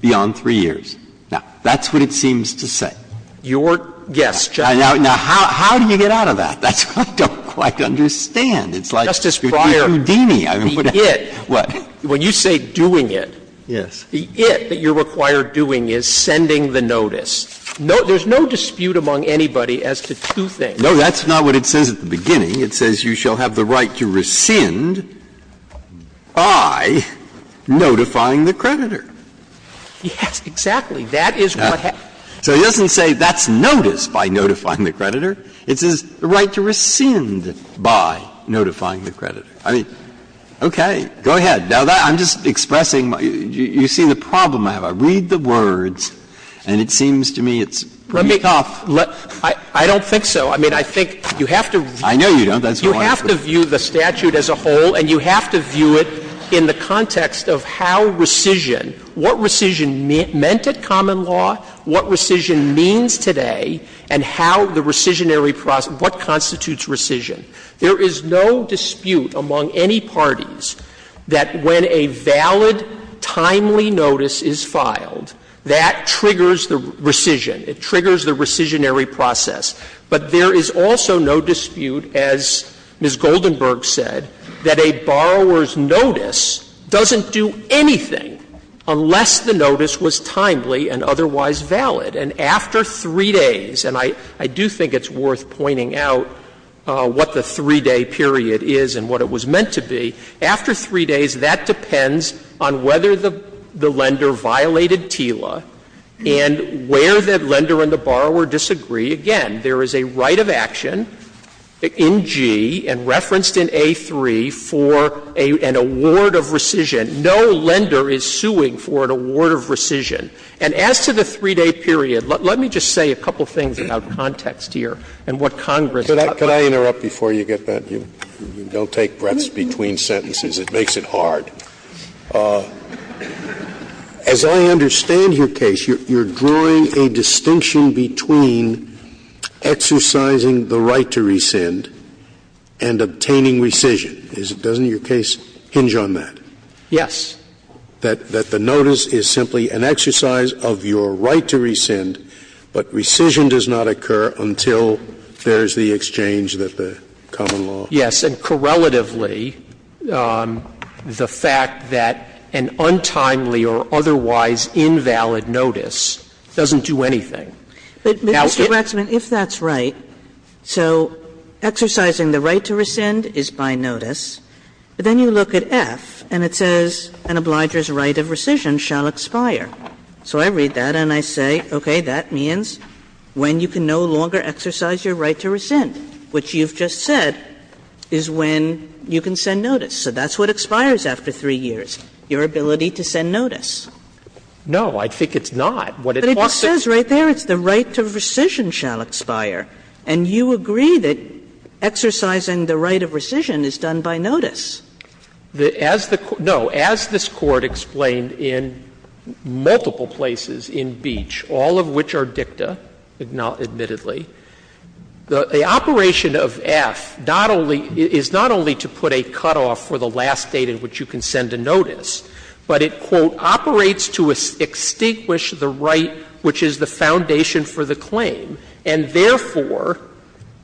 beyond three years. Now, that's what it seems to say. Your guess, Justice Breyer. Now, how do you get out of that? That's what I don't quite understand. It's like, Justice Breyer, the it. What? When you say doing it, the it that you're required doing is sending the notice. There's no dispute among anybody as to two things. No, that's not what it says at the beginning. It says you shall have the right to rescind by notifying the creditor. Yes, exactly. That is what happens. So it doesn't say that's notice by notifying the creditor. It says the right to rescind by notifying the creditor. I mean, okay. Go ahead. Now, I'm just expressing my you see the problem I have. I read the words and it seems to me it's pretty tough. Let me go. I don't think so. I mean, I think you have to read the words. You have to view the statute as a whole and you have to view it in the context of how rescission, what rescission meant at common law, what rescission means today and how the rescissionary process, what constitutes rescission. There is no dispute among any parties that when a valid, timely notice is filed, that triggers the rescission. It triggers the rescissionary process. But there is also no dispute, as Ms. Goldenberg said, that a borrower's notice doesn't do anything unless the notice was timely and otherwise valid. And after three days, and I do think it's worth pointing out what the three-day period is and what it was meant to be, after three days, that depends on whether the lender violated TILA and where the lender and the borrower disagree. Again, there is a right of action in G and referenced in A3 for an award of rescission. No lender is suing for an award of rescission. And as to the three-day period, let me just say a couple of things about context here and what Congress taught me. Scalia. Could I interrupt before you get that? You don't take breaths between sentences. It makes it hard. As I understand your case, you're drawing a distinction between exercising the right to rescind and obtaining rescission. Doesn't your case hinge on that? Yes. That the notice is simply an exercise of your right to rescind, but rescission does not occur until there is the exchange that the common law. Yes. And correlatively, the fact that an untimely or otherwise invalid notice doesn't do anything. But, Mr. Waxman, if that's right, so exercising the right to rescind is by notice. But then you look at F and it says an obliger's right of rescission shall expire. So I read that and I say, okay, that means when you can no longer exercise your right to rescind, which you've just said, is when you can send notice. So that's what expires after 3 years, your ability to send notice. No, I think it's not. But it says right there, it's the right to rescission shall expire. And you agree that exercising the right of rescission is done by notice. As the Court – no, as this Court explained in multiple places in Beach, all of which are dicta, admittedly, the operation of F not only – is not only to put a cutoff for the last date in which you can send a notice, but it, quote, operates to extinguish the right which is the foundation for the claim. And therefore,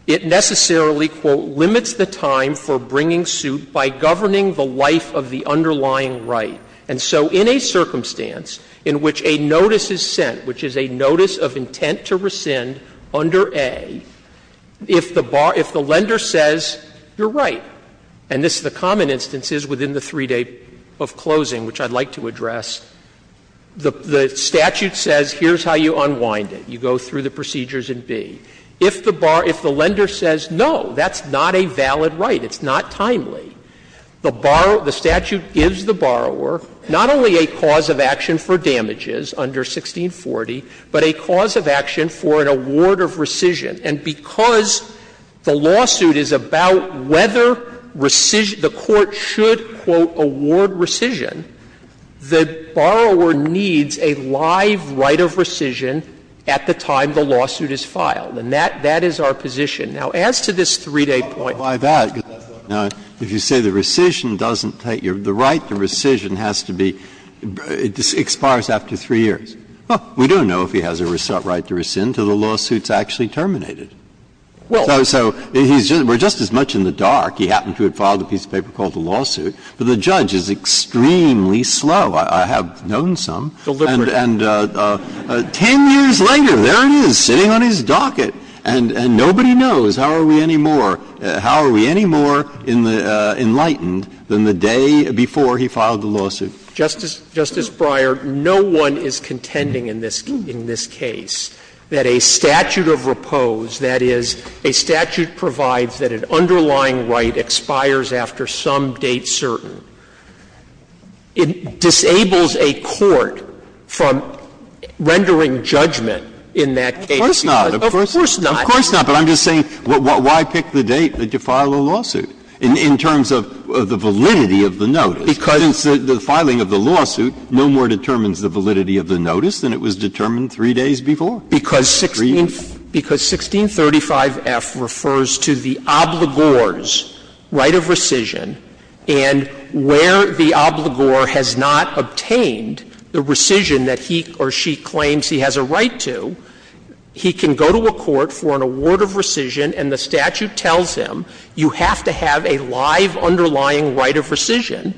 it necessarily, quote, limits the time for bringing suit by governing the life of the underlying right. And so in a circumstance in which a notice is sent, which is a notice of intent to rescind under A, if the lender says you're right, and this is the common instances within the 3 days of closing, which I'd like to address, the statute says here's how you unwind it. You go through the procedures in B. If the lender says no, that's not a valid right. It's not timely. The statute gives the borrower not only a cause of action for damages under 1640, but a cause of action for an award of rescission. And because the lawsuit is about whether rescission – the Court should, quote, award rescission, the borrower needs a live right of rescission at the time the lawsuit is filed, and that is our position. Now, as to this 3-day point. Breyer, why that? If you say the rescission doesn't take your – the right to rescission has to be – it expires after 3 years. Well, we don't know if he has a right to rescind until the lawsuit's actually terminated. So he's just – we're just as much in the dark. He happened to have filed a piece of paper called the lawsuit, but the judge is extremely slow. I have known some. And 10 years later, there it is, sitting on his docket, and nobody knows how are we any more – how are we any more enlightened than the day before he filed the lawsuit. Justice Breyer, no one is contending in this case that a statute of repose, that is, a statute provides that an underlying right expires after some date certain, it disables a court from rendering judgment in that case. Of course not. Of course not. But I'm just saying, why pick the date that you file a lawsuit in terms of the validity of the notice, since the filing of the lawsuit no more determines the validity of the notice than it was determined 3 days before? Because 1635F refers to the obligor's right of rescission, and where the obligor has not obtained the rescission that he or she claims he has a right to, he can go to a court for an award of rescission, and the statute tells him, you have to have a live underlying right of rescission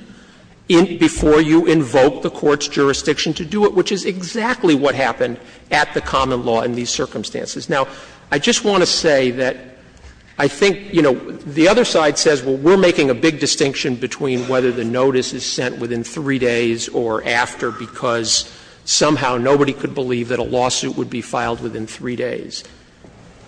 before you invoke the court's jurisdiction to do it, which is exactly what happened at the common law in these circumstances. Now, I just want to say that I think, you know, the other side says, well, we're making a big distinction between whether the notice is sent within 3 days or after because somehow nobody could believe that a lawsuit would be filed within 3 days.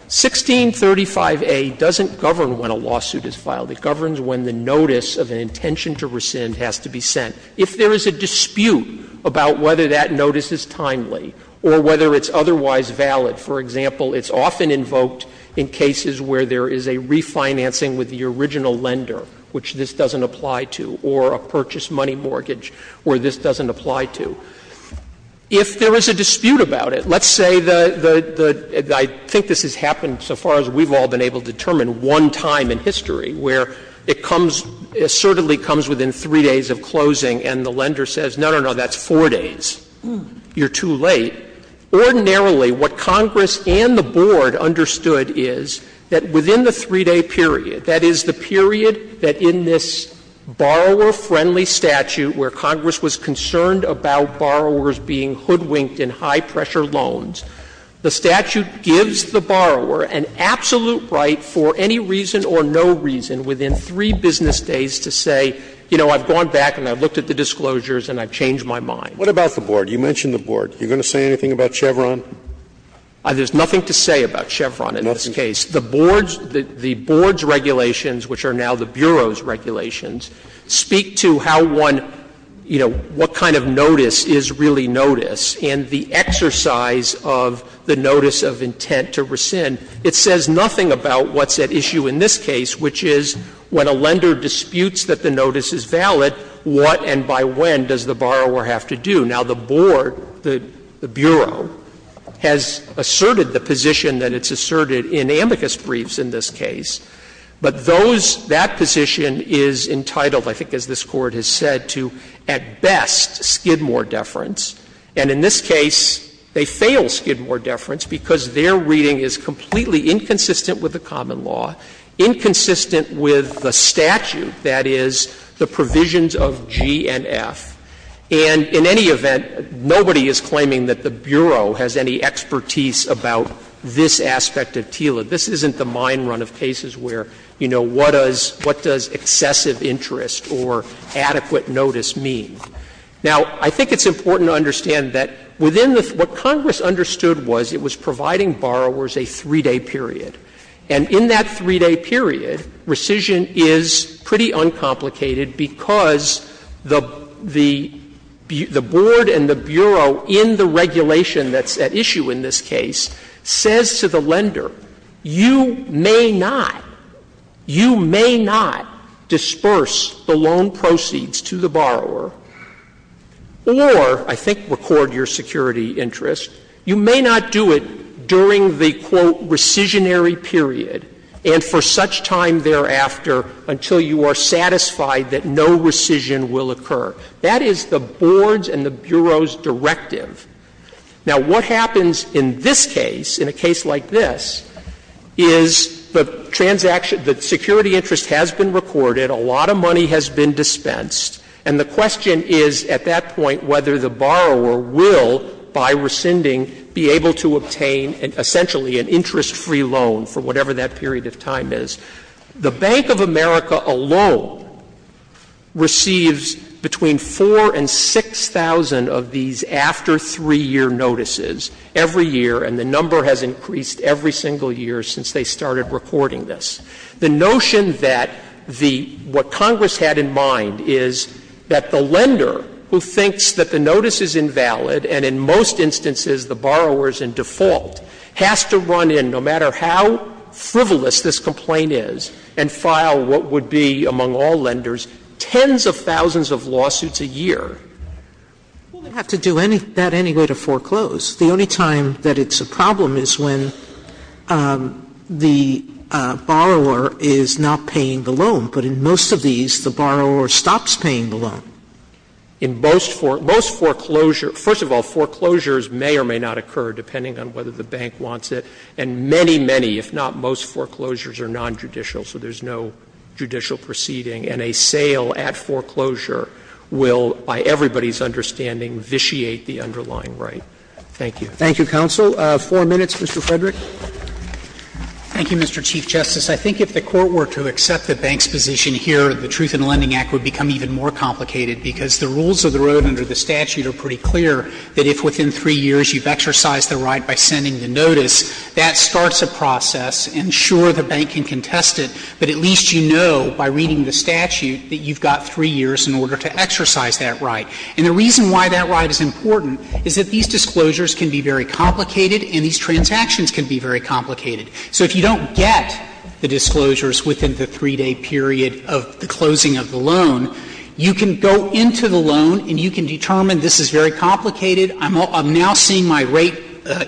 1635A doesn't govern when a lawsuit is filed. It governs when the notice of an intention to rescind has to be sent. If there is a dispute about whether that notice is timely or whether it's otherwise valid, for example, it's often invoked in cases where there is a refinancing with the original lender, which this doesn't apply to, or a purchase money mortgage, where this doesn't apply to. If there is a dispute about it, let's say the — I think this has happened so far as we've all been able to determine one time in history where it comes — it certainly comes within 3 days of closing and the lender says, no, no, no, that's 4 days, you're too late. Ordinarily, what Congress and the Board understood is that within the 3-day period, that is, the period that in this borrower-friendly statute where Congress was concerned about borrowers being hoodwinked in high-pressure loans, the statute gives the borrower an absolute right for any reason or no reason within 3 business days to say, you know, I've gone back and I've looked at the disclosures and I've changed my mind. What about the Board? You mentioned the Board. Are you going to say anything about Chevron? There's nothing to say about Chevron in this case. Nothing. The Board's regulations, which are now the Bureau's regulations, speak to how one — you know, what kind of notice is really notice and the exercise of the notice of intent to rescind. It says nothing about what's at issue in this case, which is when a lender disputes that the notice is valid, what and by when does the borrower have to do? Now, the Board, the Bureau, has asserted the position that it's asserted in amicus briefs in this case, but those — that position is entitled, I think as this Court has said, to at best Skidmore deference, and in this case they fail Skidmore deference because their reading is completely inconsistent with the common law, inconsistent with the statute, that is, the provisions of G and F. And in any event, nobody is claiming that the Bureau has any expertise about this aspect of TILA. This isn't the mine run of cases where, you know, what does excessive interest or adequate notice mean. Now, I think it's important to understand that within the — what Congress understood was it was providing borrowers a 3-day period, and in that 3-day period rescission is pretty uncomplicated because the — the — the Board and the Bureau in the regulation that's at issue in this case says to the lender, you may not — you may not disperse the loan proceeds to the borrower or, I think, record your security interest, you may not do it during the, quote, recisionary period, and for such time thereafter until you are satisfied that no rescission will occur. That is the Board's and the Bureau's directive. Now, what happens in this case, in a case like this, is the transaction — the security interest has been recorded, a lot of money has been dispensed, and the question is at that point whether the borrower will, by rescinding, be able to obtain, essentially, an interest-free loan for whatever that period of time is. The Bank of America alone receives between 4,000 and 6,000 of these after-3-year notices every year, and the number has increased every single year since they started recording this. The notion that the — what Congress had in mind is that the lender, who thinks that the notice is invalid, and in most instances the borrower is in default, has to run in, no matter how frivolous this complaint is, and file what would be, among all lenders, tens of thousands of lawsuits a year. Sotomayor, will they have to do that anyway to foreclose? The only time that it's a problem is when the borrower is not paying the loan, but in most of these the borrower stops paying the loan. In most foreclosures — first of all, foreclosures may or may not occur, depending on whether the bank wants it. And many, many, if not most foreclosures, are nonjudicial, so there's no judicial proceeding, and a sale at foreclosure will, by everybody's understanding, vitiate the underlying right. Thank you. Thank you, counsel. Four minutes, Mr. Frederick. Thank you, Mr. Chief Justice. I think if the Court were to accept the bank's position here, the Truth in Lending Act would become even more complicated, because the rules of the road under the statute are pretty clear, that if within three years you've exercised the right by sending the notice, that starts a process. And sure, the bank can contest it, but at least you know by reading the statute that you've got three years in order to exercise that right. And the reason why that right is important is that these disclosures can be very complicated and these transactions can be very complicated. So if you don't get the disclosures within the three-day period of the closing of the loan, you can go into the loan and you can determine this is very complicated, I'm now seeing my rate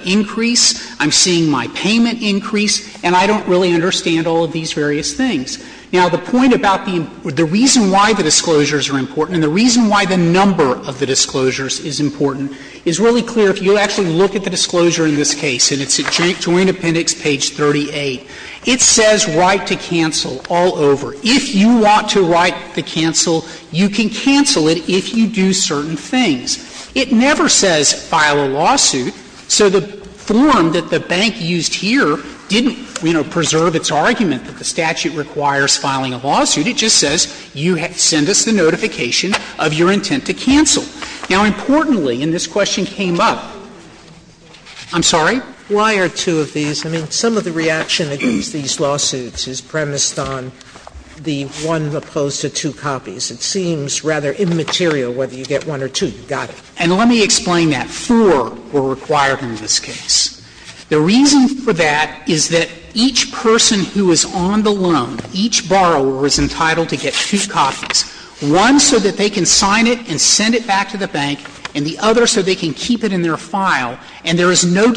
increase, I'm seeing my payment increase, and I don't really understand all of these various things. Now, the point about the reason why the disclosures are important and the reason why the number of the disclosures is important is really clear if you actually look at the disclosure in this case, and it's at Joint Appendix page 38. It says right to cancel all over. If you want to write the cancel, you can cancel it if you do certain things. It never says file a lawsuit, so the form that the bank used here didn't, you know, preserve its argument that the statute requires filing a lawsuit. It just says you send us the notification of your intent to cancel. Now, importantly, and this question came up — I'm sorry. Why are two of these — I mean, some of the reaction against these lawsuits is premised on the one opposed to two copies. It seems rather immaterial whether you get one or two. You got it. And let me explain that. Four were required in this case. The reason for that is that each person who is on the loan, each borrower, is entitled to get two copies, one so that they can sign it and send it back to the bank and the other one to the bank. So the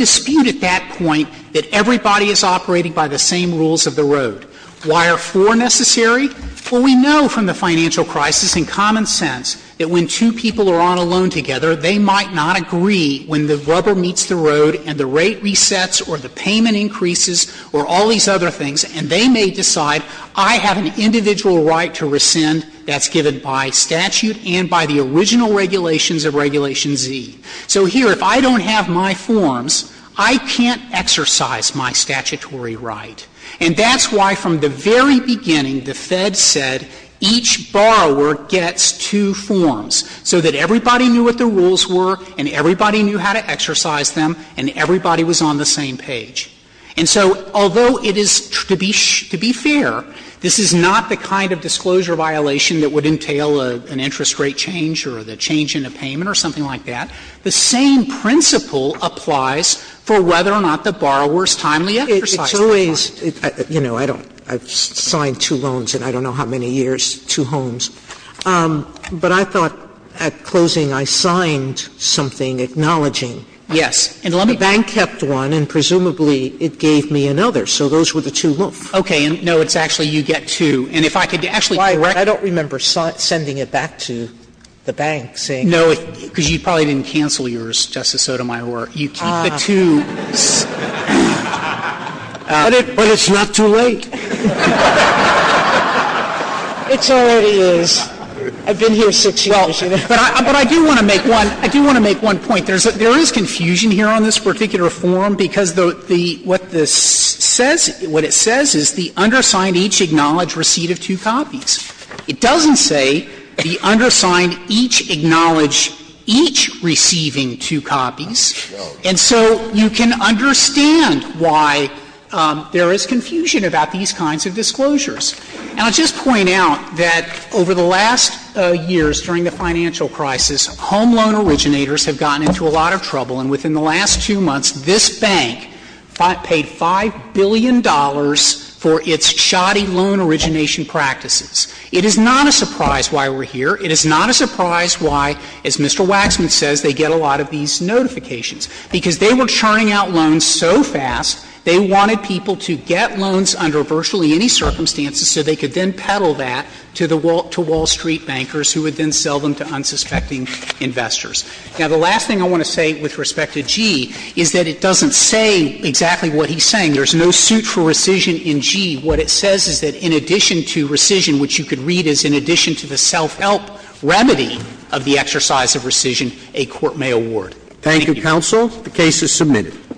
statute at that point that everybody is operating by the same rules of the road. Why are four necessary? Well, we know from the financial crisis and common sense that when two people are on a loan together, they might not agree when the rubber meets the road and the rate resets or the payment increases or all these other things, and they may decide I have an individual right to rescind that's given by statute and by the original regulations of Regulation Z. So here, if I don't have my forms, I can't exercise my statutory right. And that's why from the very beginning, the Fed said each borrower gets two forms so that everybody knew what the rules were and everybody knew how to exercise them and everybody was on the same page. And so although it is, to be fair, this is not the kind of disclosure violation that would entail an interest rate change or the change in a payment or something like that. The same principle applies for whether or not the borrower's timely exercise of the right. Sotomayor It's always, you know, I don't – I've signed two loans in I don't know how many years, two homes. But I thought at closing I signed something acknowledging the bank kept one and presumably it gave me another. So those were the two loans. Sotomayor Okay. And no, it's actually you get two. And if I could actually correct you. Sotomayor I don't remember sending it back to the bank saying that. Sotomayor Because you probably didn't cancel yours, Justice Sotomayor. You keep the two. Sotomayor But it's not too late. It already is. I've been here six years. Sotomayor But I do want to make one point. There is confusion here on this particular form because what this says, what it says is the undersigned each acknowledge receipt of two copies. It doesn't say the undersigned each acknowledge each receiving two copies. And so you can understand why there is confusion about these kinds of disclosures. And I'll just point out that over the last years during the financial crisis, home loan originators have gotten into a lot of trouble. And within the last two months, this bank paid $5 billion for its shoddy loan origination practices. It is not a surprise why we're here. It is not a surprise why, as Mr. Waxman says, they get a lot of these notifications. Because they were churning out loans so fast, they wanted people to get loans under virtually any circumstances so they could then peddle that to the Wall Street bankers who would then sell them to unsuspecting investors. Now, the last thing I want to say with respect to G is that it doesn't say exactly what he's saying. There's no suit for rescission in G. What it says is that in addition to rescission, which you could read as in addition to the self-help remedy of the exercise of rescission, a court may award. Thank you. Thank you, counsel. The case is submitted.